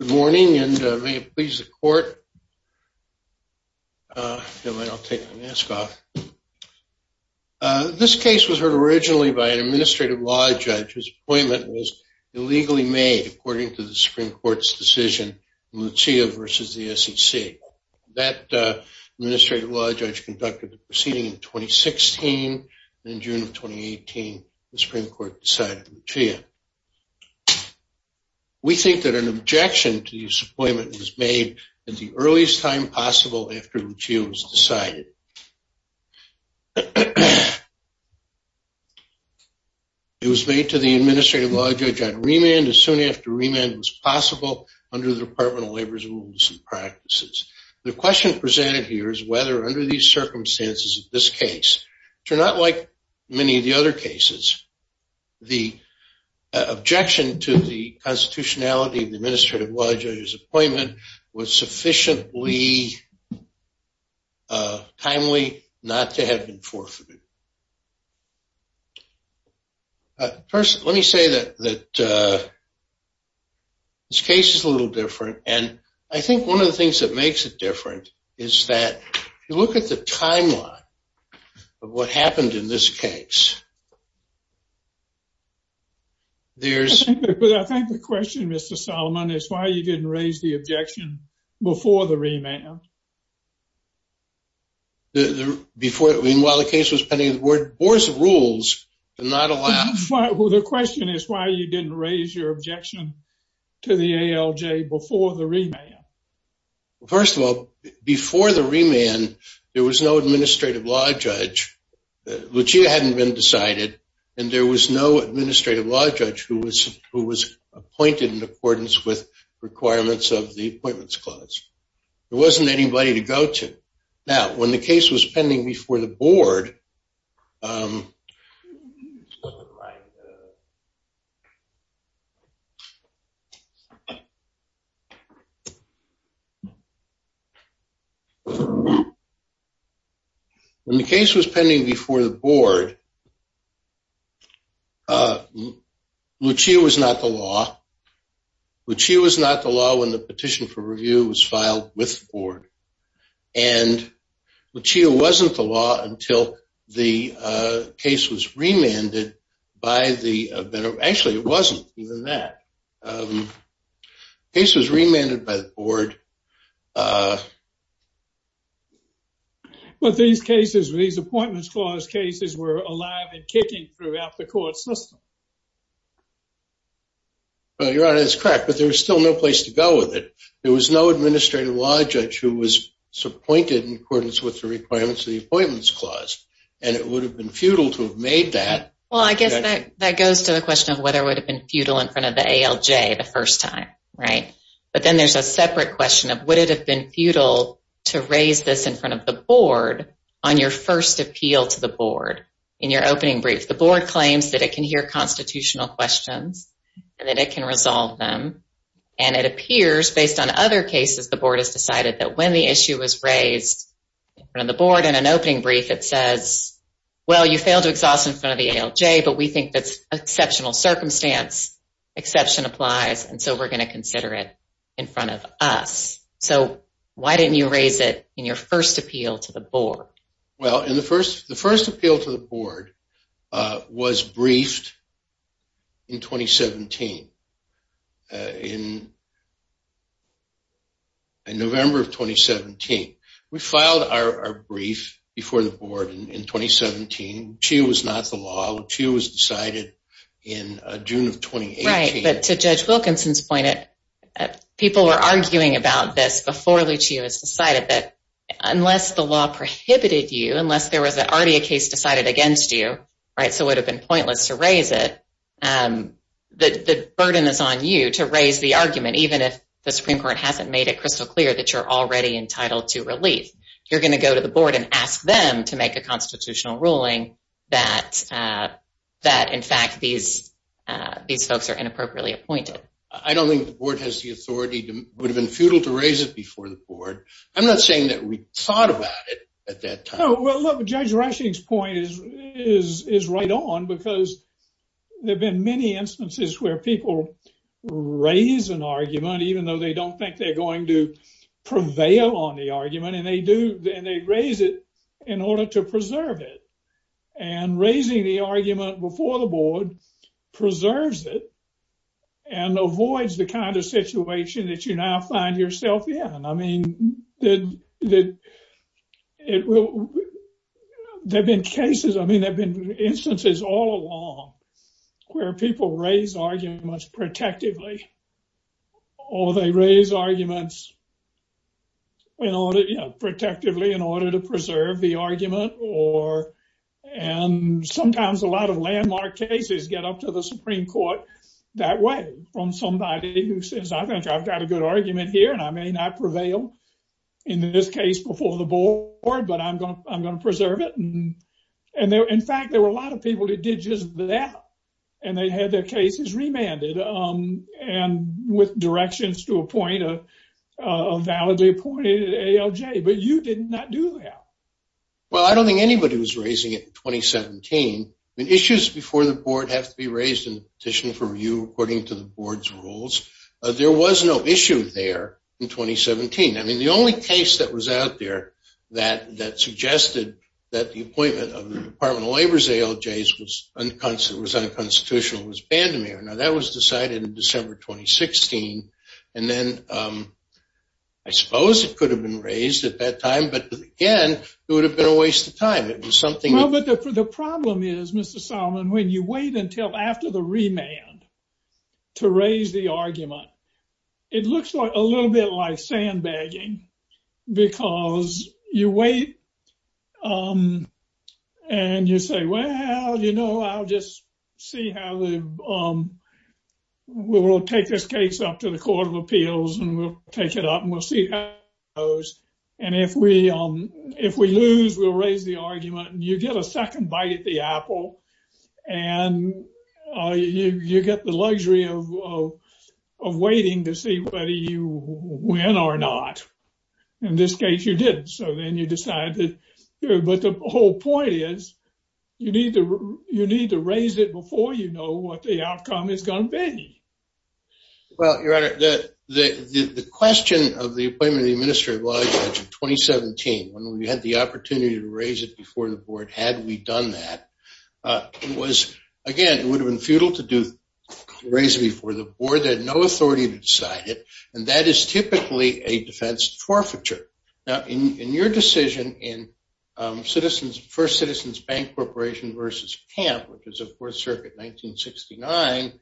Good morning, and may it please the court. I'll take my mask off. This case was heard originally by an administrative law judge whose appointment was illegally made according to the Supreme Court's decision, Lucia versus the SEC. That administrative law judge conducted the proceeding in 2016. In June of 2018, the objection to this appointment was made at the earliest time possible after Lucia was decided. It was made to the administrative law judge on remand as soon after remand was possible under the Department of Labor's rules and practices. The question presented here is whether under these circumstances of this case, which are not like many of the other cases, the objection to the constitutionality of the administrative law judge's appointment was sufficiently timely not to have been forfeited. First, let me say that this case is a little different. And I think one of the things that makes it different is that you look at the timeline of what happened in this case. But I think the question, Mr. Solomon, is why you didn't raise the objection before the remand? Before, meanwhile, the case was pending the board's rules to not allow... The question is why you didn't raise your objection to the ALJ before the remand? First of all, before the remand, there was no administrative law judge who was appointed in accordance with requirements of the appointments clause. There wasn't anybody to go to. Now, when the case was pending before the board... When the case was pending before the board, Lucia was not the law. Lucia was not the law when the petition for review was filed with the board. And Lucia wasn't the law until the case was remanded by the... Actually, it wasn't even that. The case was remanded by the board. But these cases, these appointments clause cases were alive and kicking throughout the court system. Well, Your Honor, that's correct. But there was still no place to go with it. There was no administrative law judge who was appointed in accordance with the requirements of the appointments clause. And it would have been futile to have made that. Well, I guess that goes to the question of whether it would have been futile in front of the ALJ the first time, right? But then there's a separate question of would it have been futile to raise this in front of the board on your first appeal to the board in your opening brief? The board claims that it can hear constitutional questions and that it can resolve them. And it appears based on other cases, the board has decided that when the issue was raised in front of the board in an opening brief, it says, well, you failed to exhaust in front of the ALJ, but we think that's exceptional circumstance. Exception applies. And so we're going to consider it in front of us. So why didn't you raise it in your first appeal to the board? Well, in the first, the first appeal to the board was briefed in 2017. In November of 2017, we filed our brief before the board in 2017. LUCHEO was not the law. LUCHEO was decided in June of 2018. Right, but to Judge Wilkinson's point, people were arguing about this before LUCHEO was decided that unless the law prohibited you, unless there was already a case decided against you, right, so it would have been pointless to raise it, the burden is on you to raise the argument, even if the Supreme Court hasn't made it crystal clear that you're already entitled to relief. You're going to go to the board and ask them to make a constitutional ruling that, in fact, these folks are inappropriately appointed. I don't think the board has the authority to, would have been futile to raise it before the board. I'm not saying that we thought about it at that time. Well, Judge Rushing's point is right on because there have been many instances where people raise an argument, even though they don't think they're going to prevail on the argument, and they do, and they raise it in order to preserve it, and raising the argument before the board preserves it and avoids the kind of situation that you now find yourself in. I mean, there have been cases, I mean, there have been instances all along where people raise arguments protectively, or they raise arguments in order, you know, protectively in order to preserve the argument or, and sometimes a lot of landmark cases get up to the Supreme Court that way from somebody who says, I think I've got a good argument here and I may not prevail in this case before the board, but I'm going to preserve it. And in fact, there were a lot of people that did just that, and they had their cases remanded and with directions to appoint a validly appointed ALJ, but you did not do that. Well, I don't think anybody was raising it in 2017. I mean, issues before the board have to be raised in petition for review according to the board's rules. There was no issue there in 2017. I mean, the only case that was out there that suggested that the appointment of the Department of Labor's ALJs was unconstitutional was Bandemir. Now that was decided in December, 2016. And then I suppose it could have been raised at that time, but again, it would have been a waste of time. It was something... Well, but the problem is, Mr. Reimann, to raise the argument, it looks a little bit like sandbagging because you wait and you say, well, you know, I'll just see how we will take this case up to the Court of Appeals and we'll take it up and we'll see how it goes. And if we lose, we'll raise the argument and you get a second bite at the apple and you get the luxury of waiting to see whether you win or not. In this case, you didn't. So then you decide to... But the whole point is you need to raise it before you know what the outcome is going to be. Well, Your Honor, the question of the appointment of the Administrative Law Judge in 2017, when we had the opportunity to raise it before the board, had we done that, it was, again, it would have been futile to raise it before the board. They had no authority to decide it. And that is typically a defense forfeiture. Now, in your decision in First Citizens Bank Corporation versus Camp, which is the Fourth Circuit, 1969,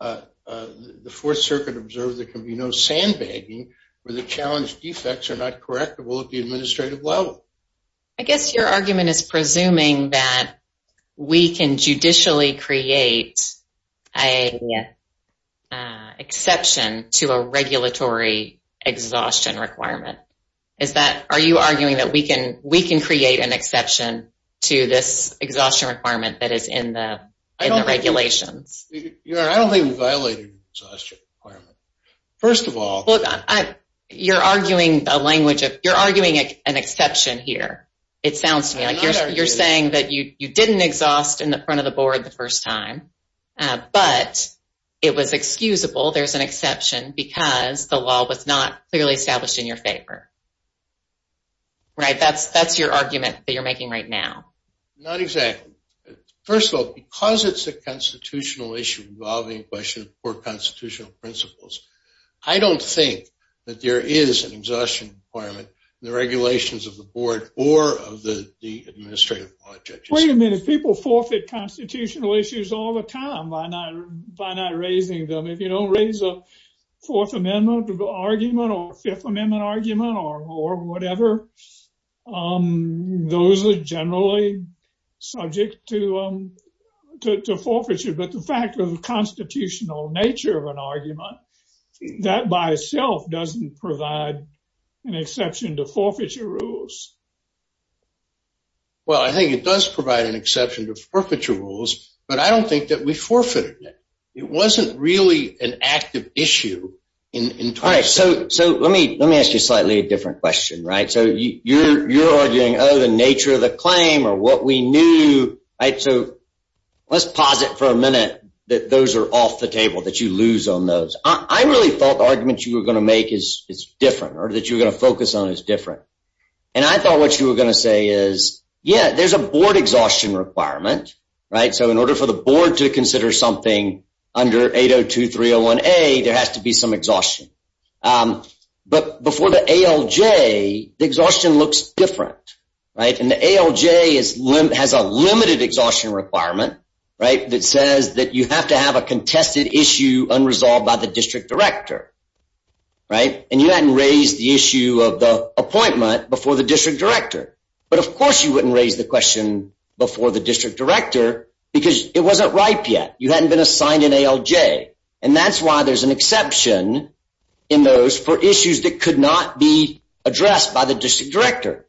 the Fourth Circuit observed there can be no sandbagging where the challenged defects are not correctable at the administrative level. I guess your argument is presuming that we can judicially create a exception to a regulatory exhaustion requirement. Is that... Are you arguing that we can create an exception to this exhaustion requirement that is in the regulations? Your Honor, I don't think we violated an exhaustion requirement. First of all... You're arguing a language of... You're arguing an exception here, it sounds to me like you're saying that you didn't exhaust in the front of the board the first time, but it was excusable. There's an exception because the law was not clearly established in your favor. Right, that's your argument that you're making right now. Not exactly. First of all, because it's a constitutional issue involving questions for constitutional principles, I don't think that there is an exhaustion requirement in the regulations of the board or of the administrative law judges. Wait a minute. People forfeit constitutional issues all the time by not raising them. If you don't raise a Fourth Amendment argument or a Fifth Amendment argument or whatever, those are generally subject to forfeiture. But the fact of the constitutional nature of an argument, that by itself doesn't provide an exception to forfeiture rules. Well, I think it does provide an exception to forfeiture rules, but I don't think that we forfeited it. It wasn't really an active issue in terms of... All right, so let me ask you a slightly different question, right? So you're arguing, oh, the nature of the claim or what we knew, right? Let's pause it for a minute that those are off the table, that you lose on those. I really thought the argument you were going to make is different or that you were going to focus on is different. And I thought what you were going to say is, yeah, there's a board exhaustion requirement, right? So in order for the board to consider something under 802.301A, there has to be some exhaustion. But before the ALJ, the exhaustion looks different, right? And the ALJ has a limited exhaustion requirement, right? That says that you have to have a contested issue unresolved by the district director, right? And you hadn't raised the issue of the appointment before the district director. But of course, you wouldn't raise the question before the district director because it wasn't ripe yet. You hadn't been assigned an ALJ. And that's why there's an exception in those for issues that could not be addressed by the district director.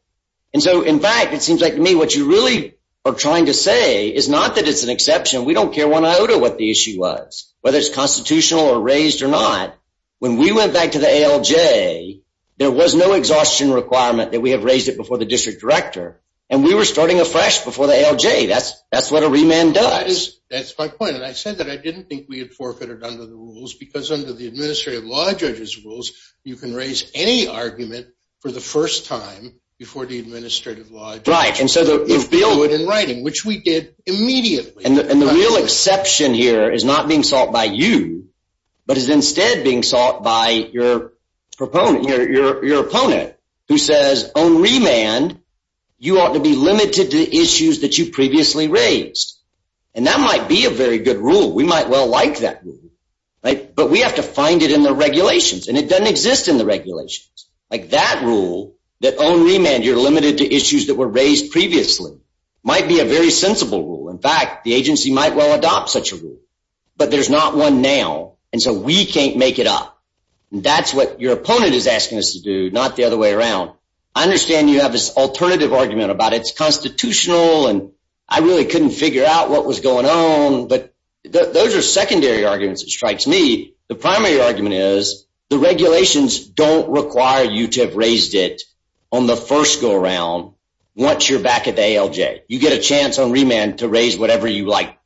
And so in fact, it seems like to me what you really are trying to say is not that it's an exception. We don't care one iota what the issue was, whether it's constitutional or raised or not. When we went back to the ALJ, there was no exhaustion requirement that we have raised it before the district director. And we were starting afresh before the ALJ. That's what a remand does. That's my point. And I said that I didn't think we had forfeited under the rules because under the administrative law judge's rules, you can raise any argument for the first time before the administrative law judge. Right. And so if Bill would in writing, which we did immediately. And the real exception here is not being sought by you, but is instead being sought by your opponent who says, on remand, you ought to be limited to the issues that you previously raised. And that might be a very good rule. We might well like that. But we have to find it in the regulations. And it doesn't exist in the regulations. Like that rule, that on remand, you're limited to issues that were raised previously, might be a very sensible rule. In fact, the agency might well adopt such a rule. But there's not one now. And so we can't make it up. That's what your opponent is asking us to do, not the other way around. I understand you have this alternative argument about it's constitutional. And I really couldn't figure out what was going on. But those are secondary arguments that strikes me. The primary argument is the regulations don't require you to have raised it on the first go around once you're back at the ALJ. You get a chance on remand to raise whatever you like.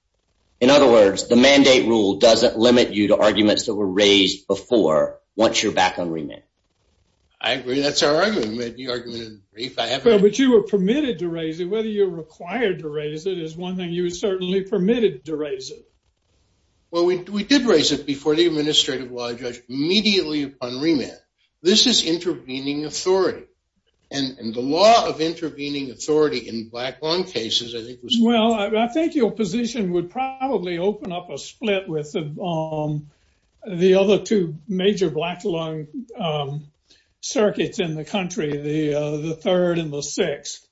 In other words, the mandate rule doesn't limit you to arguments that were raised before once you're back on remand. I agree. That's our argument. You argued it in brief. I have to agree. But you were permitted to raise it. Whether you're required to raise it is one thing. You were certainly permitted to raise it. Well, we did raise it before the administrative law judge immediately upon remand. This is intervening authority. And the law of intervening authority in black lung cases, I think, was— Well, I think your position would probably open up a split with the other two major black lung circuits in the country, the third and the sixth.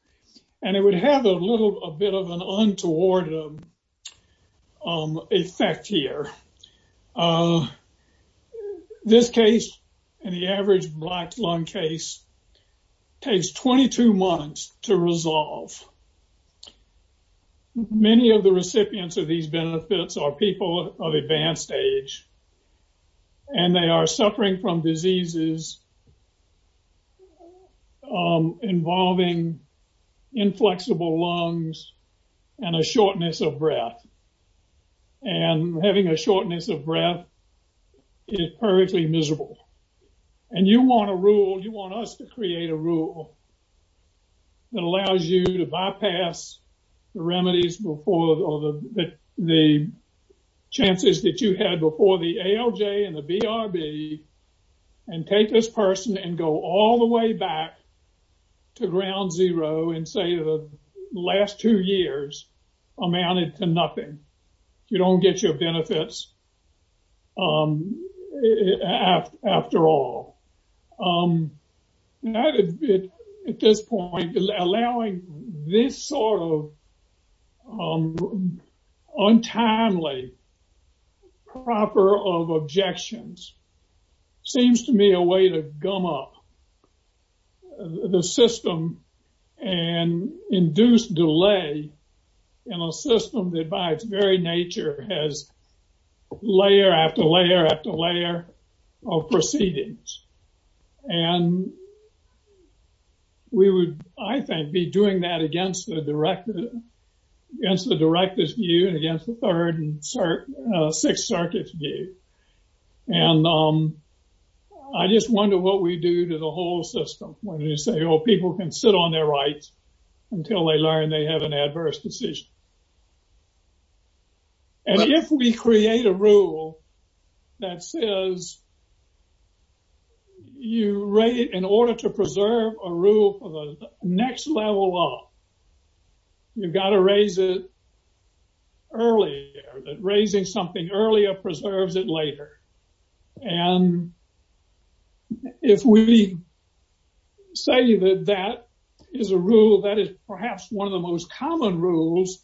And it would have a little bit of an untoward effect here. This case, in the average black lung case, takes 22 months to resolve. Many of the recipients of these benefits are people of advanced age, and they are suffering from diseases involving inflexible lungs and a shortness of breath. And having a shortness of breath is perfectly miserable. And you want a rule, you want us to create a rule that allows you to bypass the remedies before or the chances that you had before the ALJ and the BRB and take this person and go all the way back to ground zero and say the last two years amounted to nothing. You don't get your benefits after all. At this point, allowing this sort of untimely proper of objections seems to me a way to gum up the system and induce delay in a system that, by its very nature, has layer after layer after layer of proceedings. And we would, I think, be doing that against the director's view and against the third and sixth circuit's view. And I just wonder what we do to the whole system when you say, oh, people can sit on their rights until they learn they have an adverse decision. And if we create a rule that says you rate it in order to preserve a rule for the next level up, you've got to raise it earlier, that raising something earlier preserves it later. And if we say that that is a rule that is perhaps one of the most common rules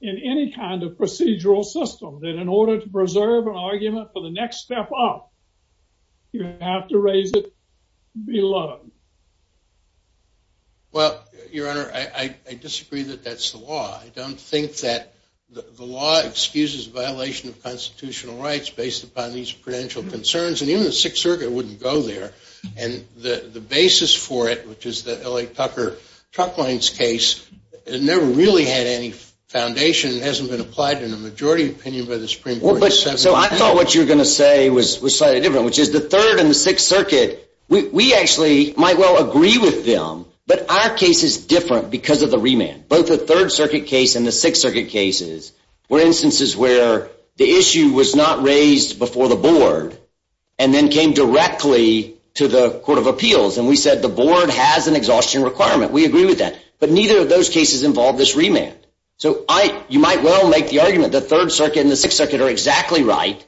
in any kind of procedural system, that in order to preserve an argument for the next step up, you have to raise it below. Well, your honor, I disagree that that's the law. I don't think that the law excuses violation of constitutional rights based upon these prudential concerns. And even the sixth circuit wouldn't go there. And the basis for it, which is the L.A. Tucker truck lines case, never really had any foundation. It hasn't been applied in a majority opinion by the Supreme Court. So I thought what you were going to say was slightly different, which is the third and the sixth circuit, we actually might well agree with them, but our case is different because of the remand. Both the third circuit case and the sixth circuit cases were instances where the issue was not raised before the board and then came directly to the court of appeals. And we said the board has an exhaustion requirement. We agree with that. But neither of those cases involved this remand. So you might well make the argument the third circuit and the sixth circuit are exactly right.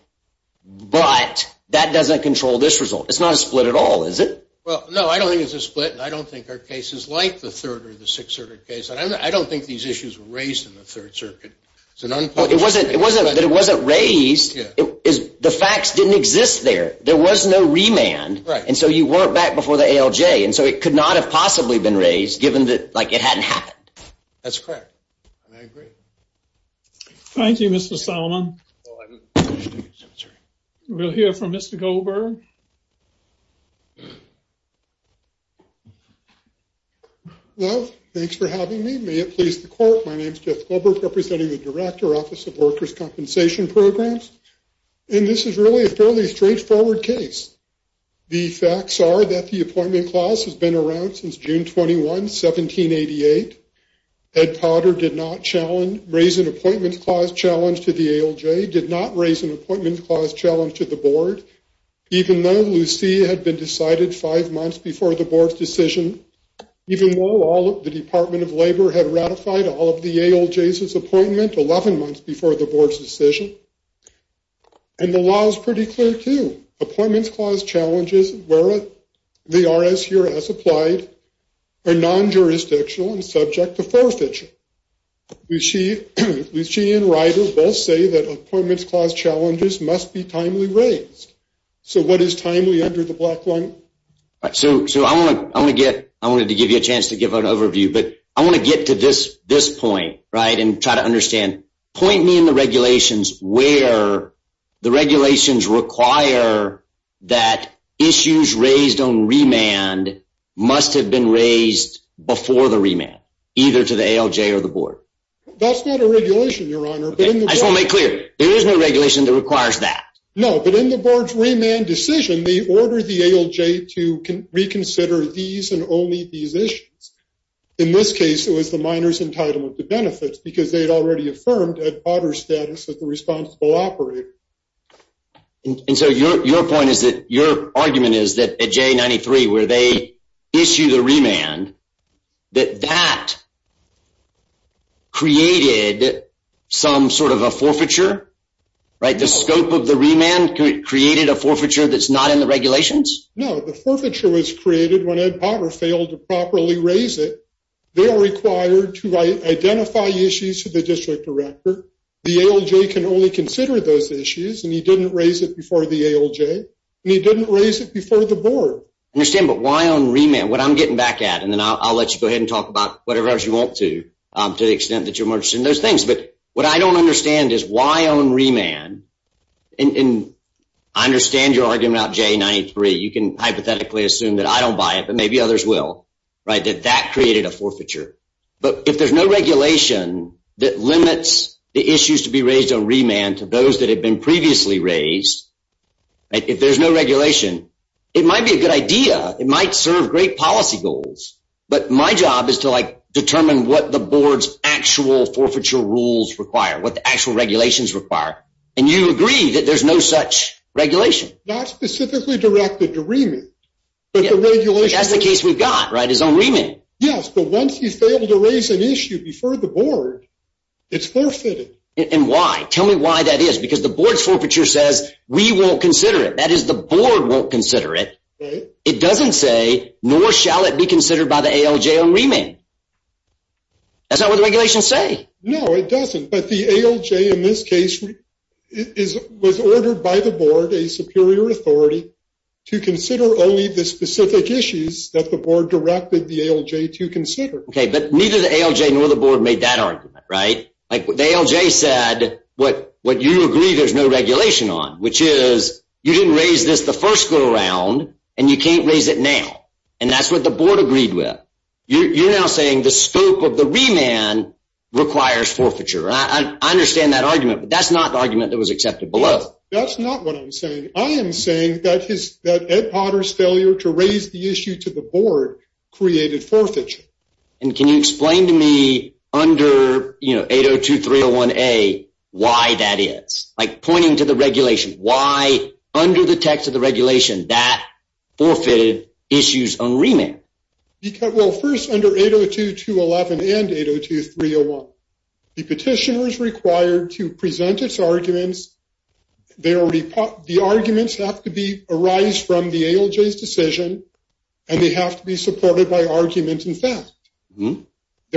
But that doesn't control this result. It's not a split at all, is it? Well, no, I don't think it's a split. And I don't think our case is like the third or the sixth circuit case. And I don't think these issues were raised in the third circuit. It wasn't that it wasn't raised. The facts didn't exist there. There was no remand. And so you weren't back before the ALJ. And so it could not have possibly been raised given that it hadn't happened. That's correct. And I agree. Thank you, Mr. Solomon. We'll hear from Mr. Goldberg. Hello. Thanks for having me. May it please the court. My name is Jeff Goldberg, representing the Director, Office of Workers' Compensation Programs. And this is really a fairly straightforward case. The facts are that the appointment clause has been around since June 21, 1788. Ed Potter did not challenge, raise an appointment clause challenge to the ALJ, did not raise an appointment clause challenge to the Board, even though Lucy had been decided five months before the Board's decision, even though all of the Department of Labor had ratified all of the ALJ's appointment 11 months before the Board's decision. And the law is pretty clear, too. Appointments clause challenges, where they are as here as applied, are non-jurisdictional and subject to forfeiture. Lucy and Ryder both say that appointments clause challenges must be timely raised. So what is timely under the black line? So I want to give you a chance to give an overview, but I want to get to this point and try to understand. Point me in the regulations where the regulations require that issues raised on remand must have been raised before the remand, either to the ALJ or the Board. That's not a regulation, Your Honor. I just want to make clear, there is no regulation that requires that. No, but in the Board's remand decision, they order the ALJ to reconsider these and only these issues. In this case, it was the minors entitled to benefits, because they had already affirmed Ed Potter's status as the responsible operator. And so your point is that your argument is that at J93, where they issue the remand, that that created some sort of a forfeiture, right? The scope of the remand created a forfeiture that's not in the regulations? No, the forfeiture was created when Ed Potter failed to properly raise it. They are required to identify issues to the district director. The ALJ can only consider those issues, and he didn't raise it before the ALJ, and he didn't raise it before the Board. I understand, but why on remand? What I'm getting back at, and then I'll let you go ahead and talk about whatever else you want to, to the extent that you're more interested in those things. But what I don't understand is why on remand? And I understand your argument about J93. You can hypothetically assume that I don't buy it, but maybe others will, right? That that created a forfeiture. But if there's no regulation that limits the issues to be raised on remand to those that have been previously raised, if there's no regulation, it might be a good idea. It might serve great policy goals. But my job is to, like, determine what the Board's actual forfeiture rules require, what the actual regulations require. And you agree that there's no such regulation. Not specifically directed to remand, but the regulation— That's the case we've got, right, is on remand. Yes, but once you fail to raise an issue before the Board, it's forfeited. And why? Tell me why that is, because the Board's forfeiture says we won't consider it. That is, the Board won't consider it. It doesn't say, nor shall it be considered by the ALJ on remand. That's not what the regulations say. No, it doesn't. But the ALJ, in this case, was ordered by the Board, a superior authority, to consider only the specific issues that the Board directed the ALJ to consider. Okay, but neither the ALJ nor the Board made that argument, right? Like, the ALJ said what you agree there's no regulation on, which is you didn't raise this the first go-around, and you can't raise it now. And that's what the Board agreed with. You're now saying the scope of the remand requires forfeiture. I understand that argument, but that's not the argument that was accepted below. That's not what I'm saying. I am saying that Ed Potter's failure to raise the issue to the Board created forfeiture. And can you explain to me, under 802.301A, why that is? Like, pointing to the regulation. Why, under the text of the regulation, that forfeited issues on remand? Well, first, under 802.211 and 802.301, the petitioner is required to present its arguments. The arguments have to arise from the ALJ's decision, and they have to be supported by argument and fact. There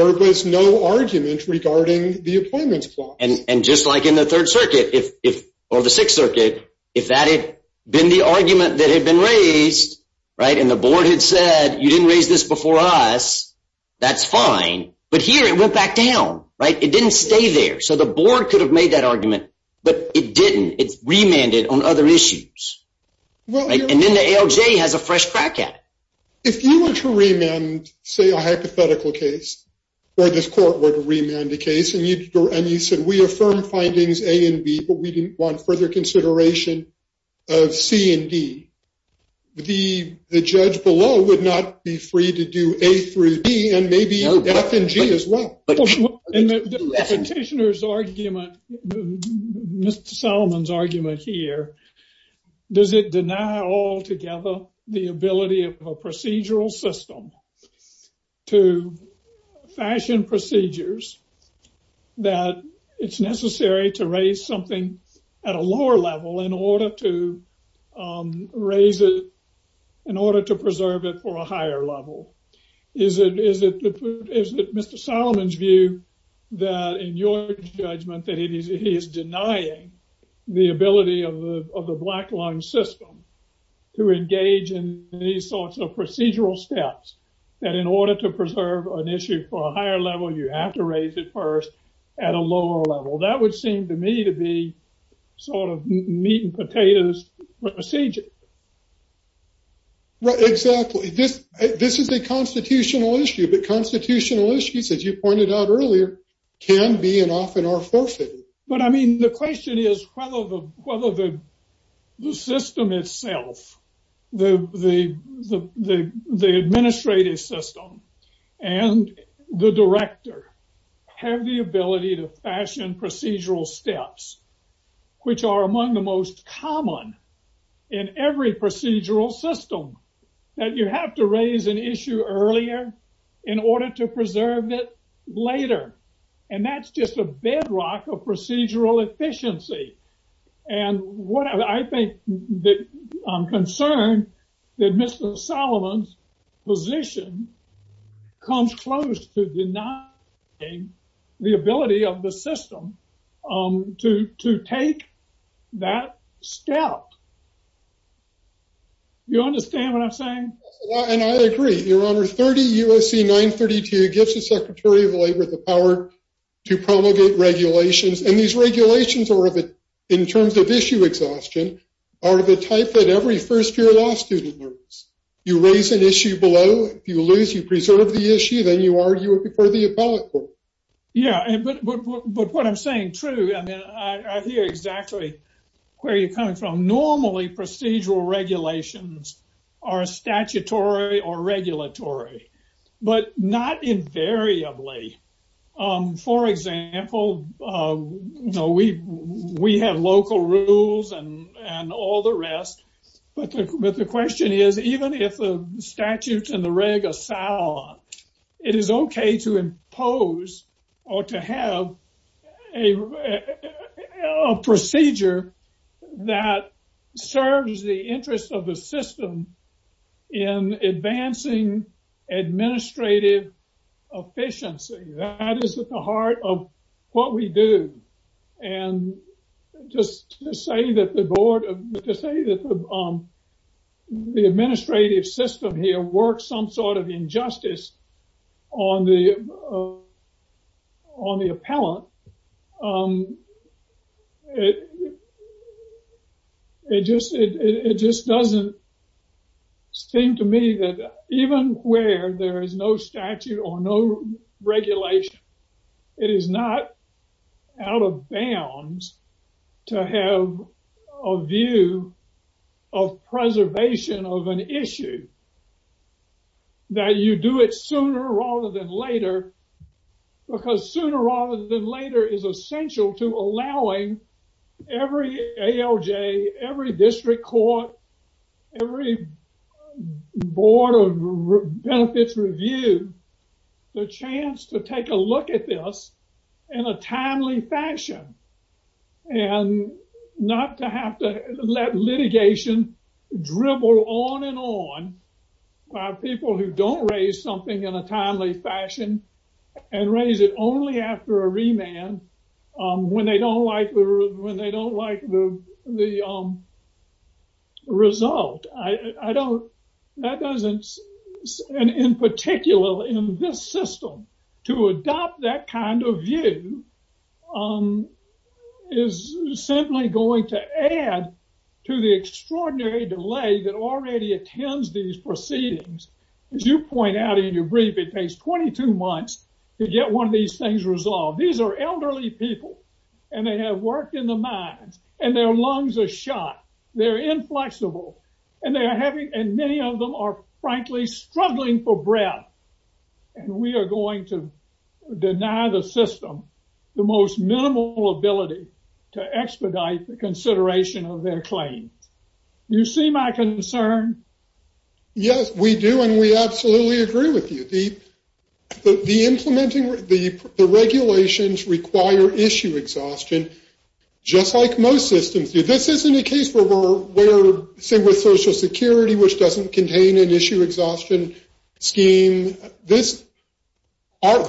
was no argument regarding the employment clause. And just like in the Third Circuit, or the Sixth Circuit, if that had been the argument that had been raised, right, and the Board had said you didn't raise this before us, that's fine. But here it went back down, right? It didn't stay there. So the Board could have made that argument, but it didn't. It's remanded on other issues. And then the ALJ has a fresh crack at it. If you were to remand, say, a hypothetical case, or this court were to remand a case, and you said we affirm findings A and B, but we didn't want further consideration of C and D, the judge below would not be free to do A through B and maybe F and G as well. The petitioner's argument, Mr. Solomon's argument here, does it deny altogether the ability of a procedural system to fashion procedures that it's necessary to raise something at a lower level in order to preserve it for a higher level? Is it Mr. Solomon's view that, in your judgment, that he is denying the ability of the Black Lung System to engage in these sorts of procedural steps that in order to preserve an issue for a higher level, you have to raise it first at a lower level? That would seem to me to be sort of meat and potatoes procedure. Right, exactly. This is a constitutional issue, but constitutional issues, as you pointed out earlier, can be and often are forfeited. But I mean, the question is whether the system itself, the administrative system, and the director have the ability to fashion procedural steps, which are among the most common in every procedural system, that you have to raise an issue earlier in order to preserve it later. And that's just a bedrock of procedural efficiency. And I'm concerned that Mr. Solomon's position comes close to denying the ability of the system to take that step. Do you understand what I'm saying? And I agree. Your Honor, 30 U.S.C. 932 gives the Secretary of Labor the power to promulgate regulations. And these regulations, in terms of issue exhaustion, are the type that every first-year law student learns. You raise an issue below. If you lose, you preserve the issue. Then you argue it before the appellate court. Yeah, but what I'm saying is true. I mean, I hear exactly where you're coming from. Normally, procedural regulations are statutory or regulatory, but not invariably. For example, we have local rules and all the rest. But the question is, even if the statutes and the reg are sound, it is okay to impose or to have a procedure that serves the interest of the system in advancing administrative efficiency. That is at the heart of what we do. And just to say that the administrative system here works some sort of injustice on the appellant, it just doesn't seem to me that even where there is no statute or no regulation, it is not out of bounds to have a view of preservation of an issue, that you do it sooner rather than later, because sooner rather than later is essential to allowing every ALJ, every district court, every board of benefits review the chance to take a look at this in a timely fashion and not to have to let litigation dribble on and on by people who don't raise something in a timely fashion and raise it only after a remand when they don't like the result. And in particular, in this system, to adopt that kind of view is simply going to add to the extraordinary delay that already attends these proceedings. As you point out in your brief, it takes 22 months to get one of these things resolved. These are elderly people and they have worked in the mines and their lungs are shot. They're inflexible and many of them are frankly struggling for breath. And we are going to deny the system the most minimal ability to expedite the consideration of their claims. You see my concern? Yes, we do. And we absolutely agree with you. The regulations require issue exhaustion, just like most systems do. This isn't a case where, say with Social Security, which doesn't contain an issue exhaustion scheme. The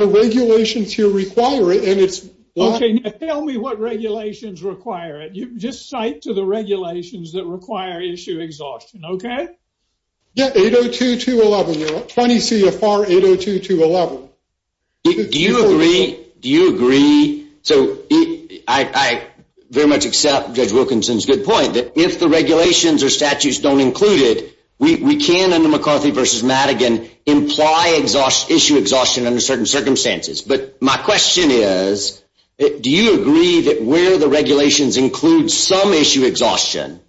regulations here require it. Okay, now tell me what regulations require it. Just cite to the regulations that require issue exhaustion, okay? Yeah, 802.211. 20 CFR 802.211. Do you agree? Do you agree? So I very much accept Judge Wilkinson's good point that if the regulations or statutes don't include it, we can, under McCarthy v. Madigan, imply issue exhaustion under certain circumstances. But my question is, do you agree that where the regulations include some issue exhaustion,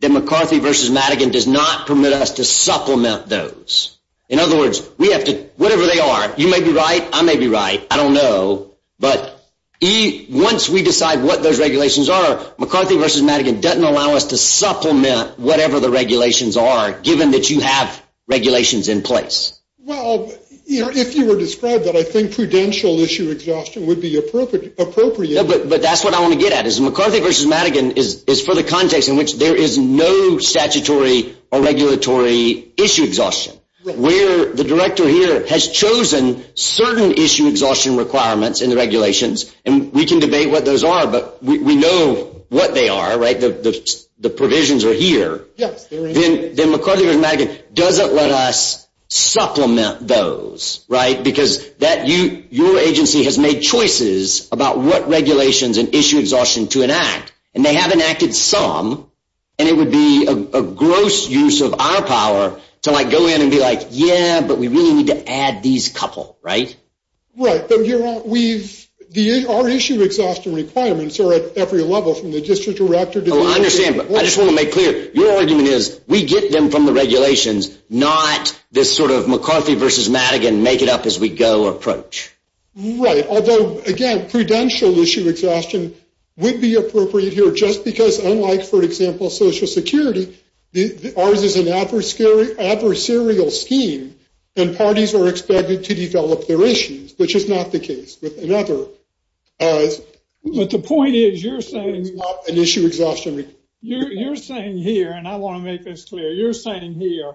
that McCarthy v. Madigan does not permit us to supplement those? In other words, we have to, whatever they are, you may be right, I may be right, I don't know, but once we decide what those regulations are, McCarthy v. Madigan doesn't allow us to supplement whatever the regulations are, given that you have regulations in place. Well, you know, if you were to describe that, I think prudential issue exhaustion would be appropriate. But that's what I want to get at, is McCarthy v. Madigan is for the context in which there is no statutory or regulatory issue exhaustion. Where the director here has chosen certain issue exhaustion requirements in the regulations, and we can debate what those are, but we know what they are, right, the provisions are here. Then McCarthy v. Madigan doesn't let us supplement those, right, because your agency has made choices about what regulations and issue exhaustion to enact. And they have enacted some, and it would be a gross use of our power to go in and be like, yeah, but we really need to add these couple, right? Right, but our issue exhaustion requirements are at every level, from the district director to the director. Well, I understand, but I just want to make clear, your argument is we get them from the regulations, not this sort of McCarthy v. Madigan, make it up as we go approach. Right, although, again, prudential issue exhaustion would be appropriate here, just because unlike, for example, Social Security, ours is an adversarial scheme, and parties are expected to develop their issues, which is not the case with another. But the point is, you're saying here, and I want to make this clear, you're saying here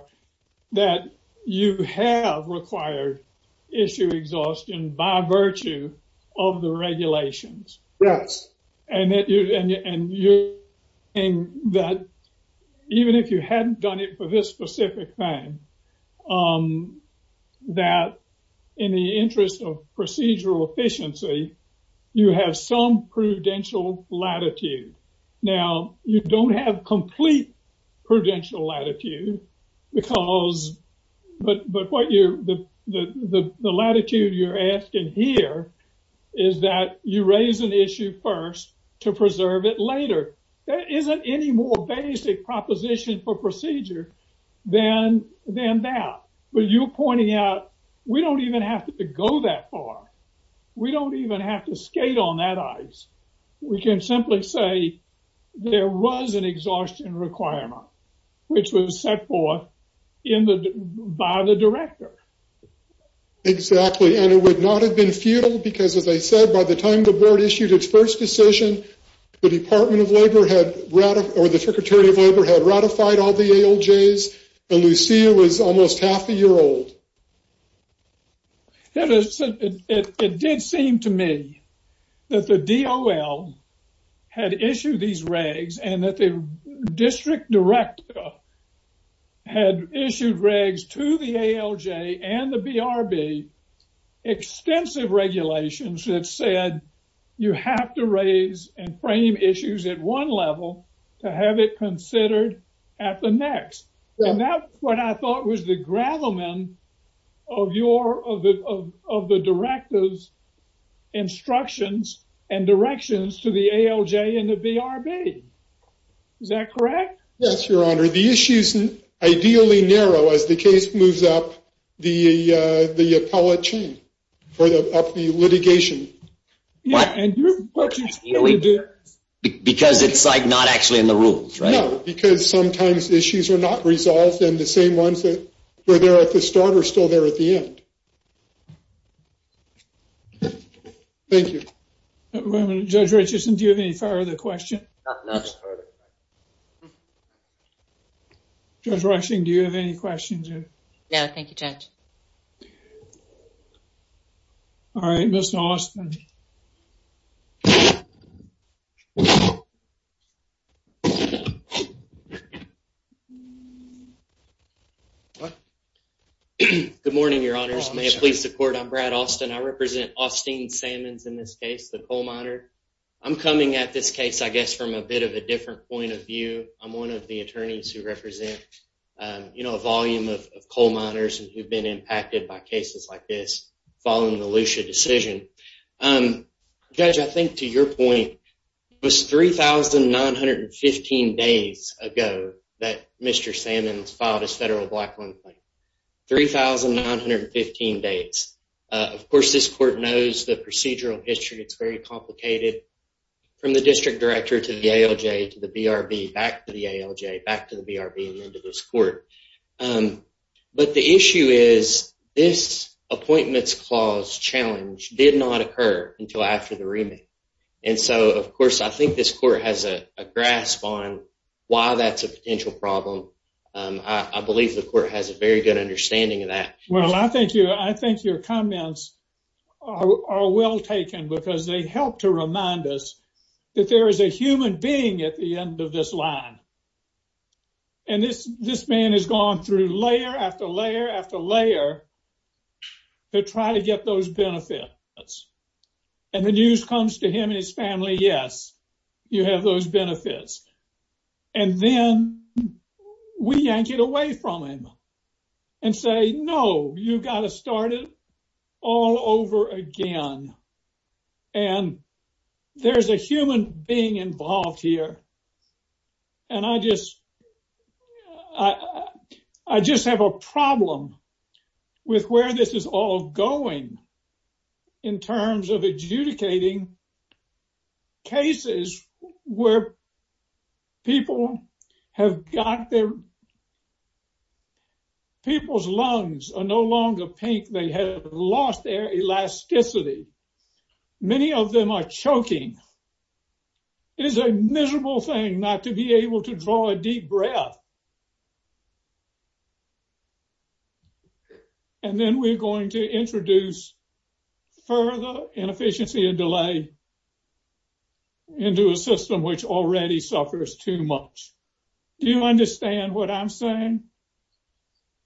that you have required issue exhaustion by virtue of the regulations. Yes. And that even if you hadn't done it for this specific thing, that in the interest of procedural efficiency, you have some prudential latitude. Now, you don't have complete prudential latitude because, but what you're, the latitude you're asking here is that you raise an issue first to preserve it later. There isn't any more basic proposition for procedure than that. But you're pointing out, we don't even have to go that far. We don't even have to skate on that ice. We can simply say there was an exhaustion requirement, which was set forth by the director. Exactly, and it would not have been futile because, as I said, by the time the board issued its first decision, the Department of Labor had, or the Secretary of Labor had ratified all the ALJs, and Lucia was almost half a year old. It did seem to me that the DOL had issued these regs, and that the district director had issued regs to the ALJ and the BRB, extensive regulations that said you have to raise and frame issues at one level to have it considered at the next. And that's what I thought was the gravamen of the director's instructions and directions to the ALJ and the BRB. Is that correct? Yes, Your Honor. Your Honor, the issues ideally narrow as the case moves up the appellate chain, up the litigation. Because it's, like, not actually in the rules, right? No, because sometimes issues are not resolved, and the same ones that were there at the start are still there at the end. Thank you. Judge Richardson, do you have any further questions? No, no further questions. Judge Rushing, do you have any questions? No, thank you, Judge. All right, Mr. Austin. Good morning, Your Honors. May it please the Court, I'm Brad Austin. I represent Austin Sammons in this case, the coal miner. I'm coming at this case, I guess, from a bit of a different point of view. I'm one of the attorneys who represent, you know, a volume of coal miners who have been impacted by cases like this following the Lucia decision. Judge, I think to your point, it was 3,915 days ago that Mr. Sammons filed his federal black loan claim, 3,915 days. Of course, this court knows the procedural history. It's very complicated from the district director to the ALJ, to the BRB, back to the ALJ, back to the BRB, and then to this court. But the issue is this appointments clause challenge did not occur until after the remake. And so, of course, I think this court has a grasp on why that's a potential problem. I believe the court has a very good understanding of that. Well, I think your comments are well taken because they help to remind us that there is a human being at the end of this line. And this man has gone through layer after layer after layer to try to get those benefits. And the news comes to him and his family, yes, you have those benefits. And then we yank it away from him and say, no, you've got to start it all over again. And there's a human being involved here. And I just have a problem with where this is all going in terms of adjudicating cases where people have got their, people's lungs are no longer pink. They have lost their elasticity. Many of them are choking. It is a miserable thing not to be able to draw a deep breath. And then we're going to introduce further inefficiency and delay into a system which already suffers too much. Do you understand what I'm saying?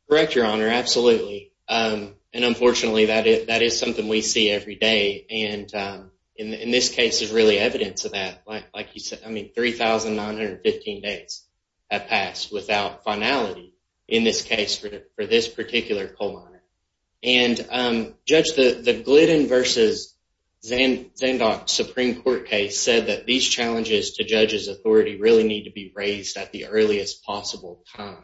Correct, Your Honor, absolutely. And unfortunately, that is something we see every day. And in this case, there's really evidence of that. Like you said, I mean, 3,915 days have passed. In this case, for this particular poll on it. And Judge, the Glidden v. Zandok Supreme Court case said that these challenges to judges' authority really need to be raised at the earliest possible time.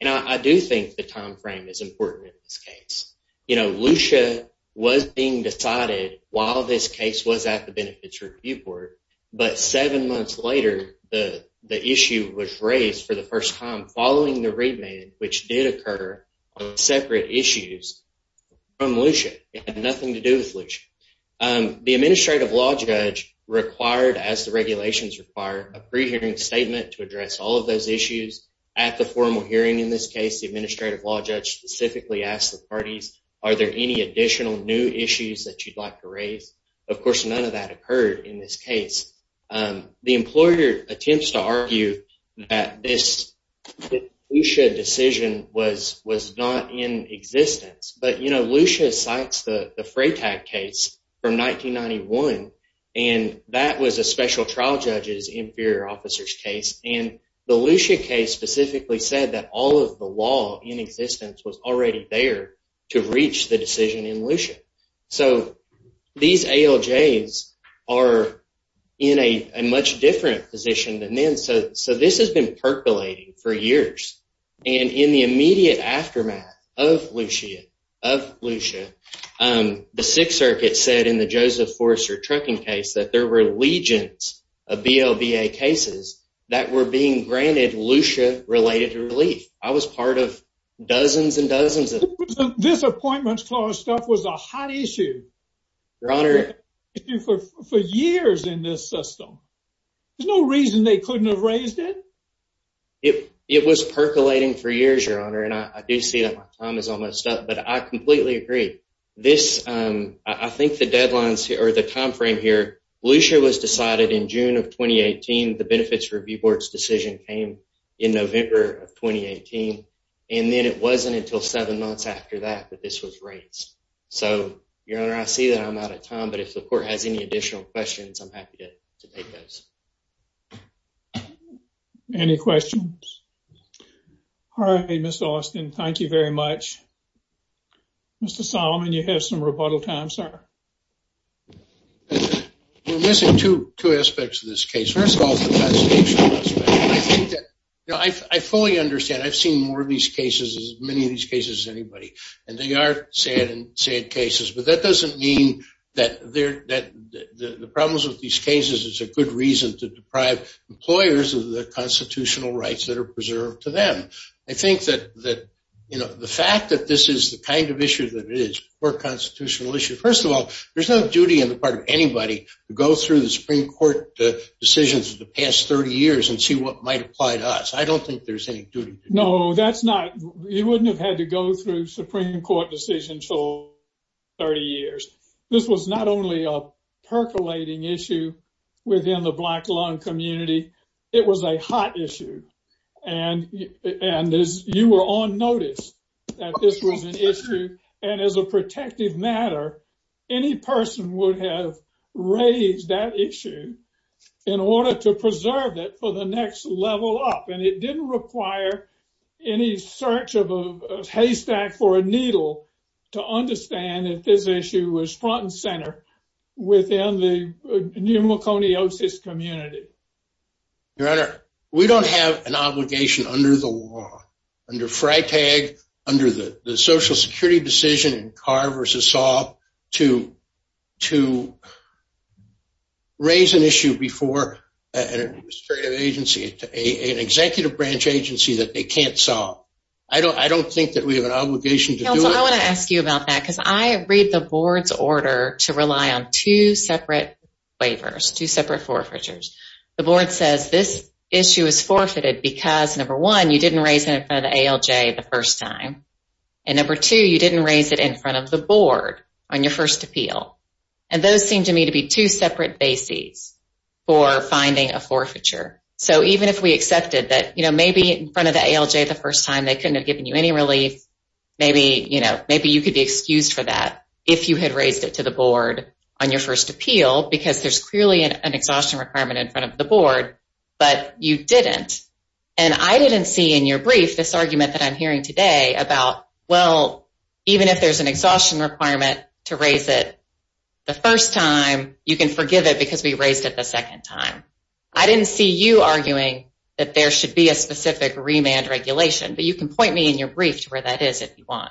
And I do think the time frame is important in this case. You know, Lucia was being decided while this case was at the Benefits Review Court. But seven months later, the issue was raised for the first time following the remand, which did occur on separate issues from Lucia. It had nothing to do with Lucia. The Administrative Law Judge required, as the regulations require, a pre-hearing statement to address all of those issues. At the formal hearing in this case, the Administrative Law Judge specifically asked the parties, are there any additional new issues that you'd like to raise? Of course, none of that occurred in this case. The employer attempts to argue that this Lucia decision was not in existence. But, you know, Lucia cites the Freytag case from 1991, and that was a special trial judge's inferior officer's case. And the Lucia case specifically said that all of the law in existence was already there to reach the decision in Lucia. So these ALJs are in a much different position than then. So this has been percolating for years. And in the immediate aftermath of Lucia, the Sixth Circuit said in the Joseph Forrester trucking case that there were legions of BLBA cases that were being granted Lucia-related relief. I was part of dozens and dozens of them. This Appointments Clause stuff was a hot issue. Your Honor. For years in this system. There's no reason they couldn't have raised it. It was percolating for years, Your Honor. And I do see that my time is almost up. But I completely agree. I think the deadlines or the timeframe here, Lucia was decided in June of 2018. The Benefits Review Board's decision came in November of 2018. And then it wasn't until seven months after that that this was raised. So, Your Honor, I see that I'm out of time. But if the Court has any additional questions, I'm happy to take those. Any questions? All right, Mr. Austin. Thank you very much. Mr. Solomon, you have some rebuttal time, sir. We're missing two aspects of this case. First of all, the fascination aspect. I fully understand. I've seen more of these cases, as many of these cases as anybody. And they are sad cases. But that doesn't mean that the problems with these cases is a good reason to deprive employers of the constitutional rights that are preserved to them. I think that the fact that this is the kind of issue that it is, a poor constitutional issue. First of all, there's no duty on the part of anybody to go through the Supreme Court decisions of the past 30 years and see what might apply to us. I don't think there's any duty. No, that's not. You wouldn't have had to go through Supreme Court decisions for 30 years. This was not only a percolating issue within the black lung community. It was a hot issue. And you were on notice that this was an issue. And as a protective matter, any person would have raised that issue in order to preserve it for the next level up. And it didn't require any search of a haystack for a needle to understand that this issue was front and center within the pneumoconiosis community. Your Honor, we don't have an obligation under the law, under FRITAG, under the Social Security decision in Carr v. Saab, to raise an issue before an administrative agency, an executive branch agency that they can't solve. I don't think that we have an obligation to do it. I want to ask you about that because I read the board's order to rely on two separate waivers, two separate forfeitures. The board says this issue is forfeited because, number one, you didn't raise it in front of the ALJ the first time. And number two, you didn't raise it in front of the board on your first appeal. And those seem to me to be two separate bases for finding a forfeiture. So even if we accepted that maybe in front of the ALJ the first time they couldn't have given you any relief, maybe you could be excused for that if you had raised it to the board on your first appeal because there's clearly an exhaustion requirement in front of the board, but you didn't. And I didn't see in your brief this argument that I'm hearing today about, well, even if there's an exhaustion requirement to raise it the first time, you can forgive it because we raised it the second time. I didn't see you arguing that there should be a specific remand regulation, but you can point me in your brief to where that is if you want.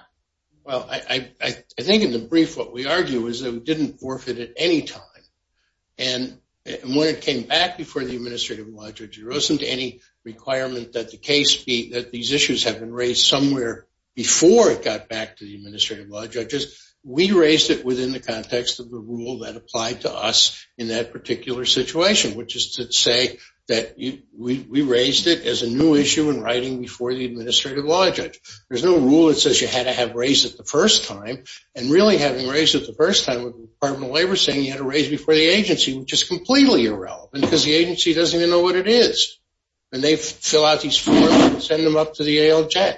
Well, I think in the brief what we argue is that we didn't forfeit at any time. And when it came back before the Administrative and Law Judges, there wasn't any requirement that these issues have been raised somewhere before it got back to the Administrative and Law Judges. We raised it within the context of the rule that applied to us in that particular situation, which is to say that we raised it as a new issue in writing before the Administrative and Law Judge. There's no rule that says you had to have raised it the first time. And really having raised it the first time with the Department of Labor saying you had to raise it before the agency, which is completely irrelevant because the agency doesn't even know what it is. And they fill out these forms and send them up to the ALJ.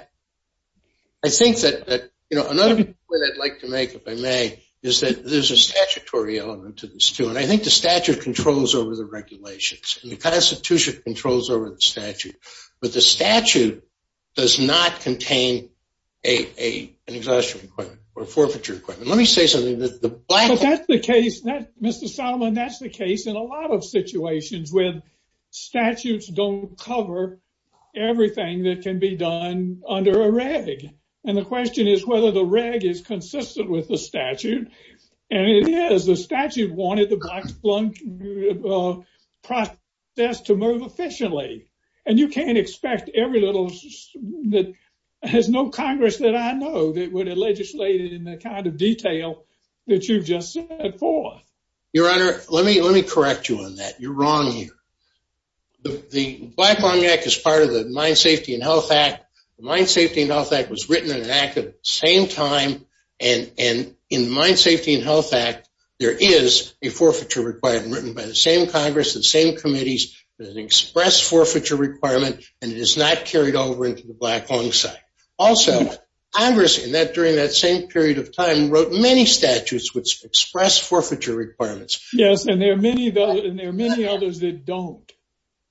I think that another point I'd like to make, if I may, is that there's a statutory element to this, too. And I think the statute controls over the regulations and the Constitution controls over the statute. But the statute does not contain an exhaustion requirement or a forfeiture requirement. But that's the case, Mr. Solomon. That's the case in a lot of situations where statutes don't cover everything that can be done under a reg. And the question is whether the reg is consistent with the statute. And it is. Because the statute wanted the black lung process to move efficiently. And you can't expect every little that has no Congress that I know that would have legislated in the kind of detail that you've just set forth. Your Honor, let me correct you on that. You're wrong here. The Black Lung Act is part of the Mine Safety and Health Act. The Mine Safety and Health Act was written in an act at the same time. And in the Mine Safety and Health Act, there is a forfeiture requirement written by the same Congress, the same committees, an express forfeiture requirement, and it is not carried over into the black lung site. Also, Congress, during that same period of time, wrote many statutes which express forfeiture requirements. Yes, and there are many others that don't.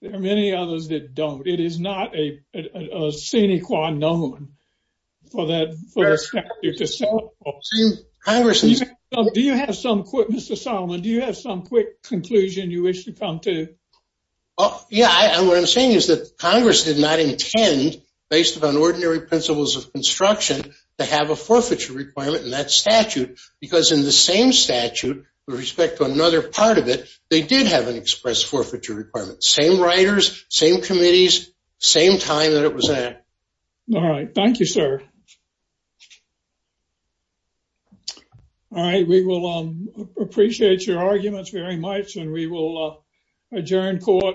There are many others that don't. It is not a sine qua non for that statute to set forth. Do you have some quick, Mr. Solomon, do you have some quick conclusion you wish to come to? Yeah, and what I'm saying is that Congress did not intend, based upon ordinary principles of construction, to have a forfeiture requirement in that statute because in the same statute, with respect to another part of it, they did have an express forfeiture requirement. Same writers, same committees, same time that it was in. All right, thank you, sir. All right, we will appreciate your arguments very much, and we will adjourn court.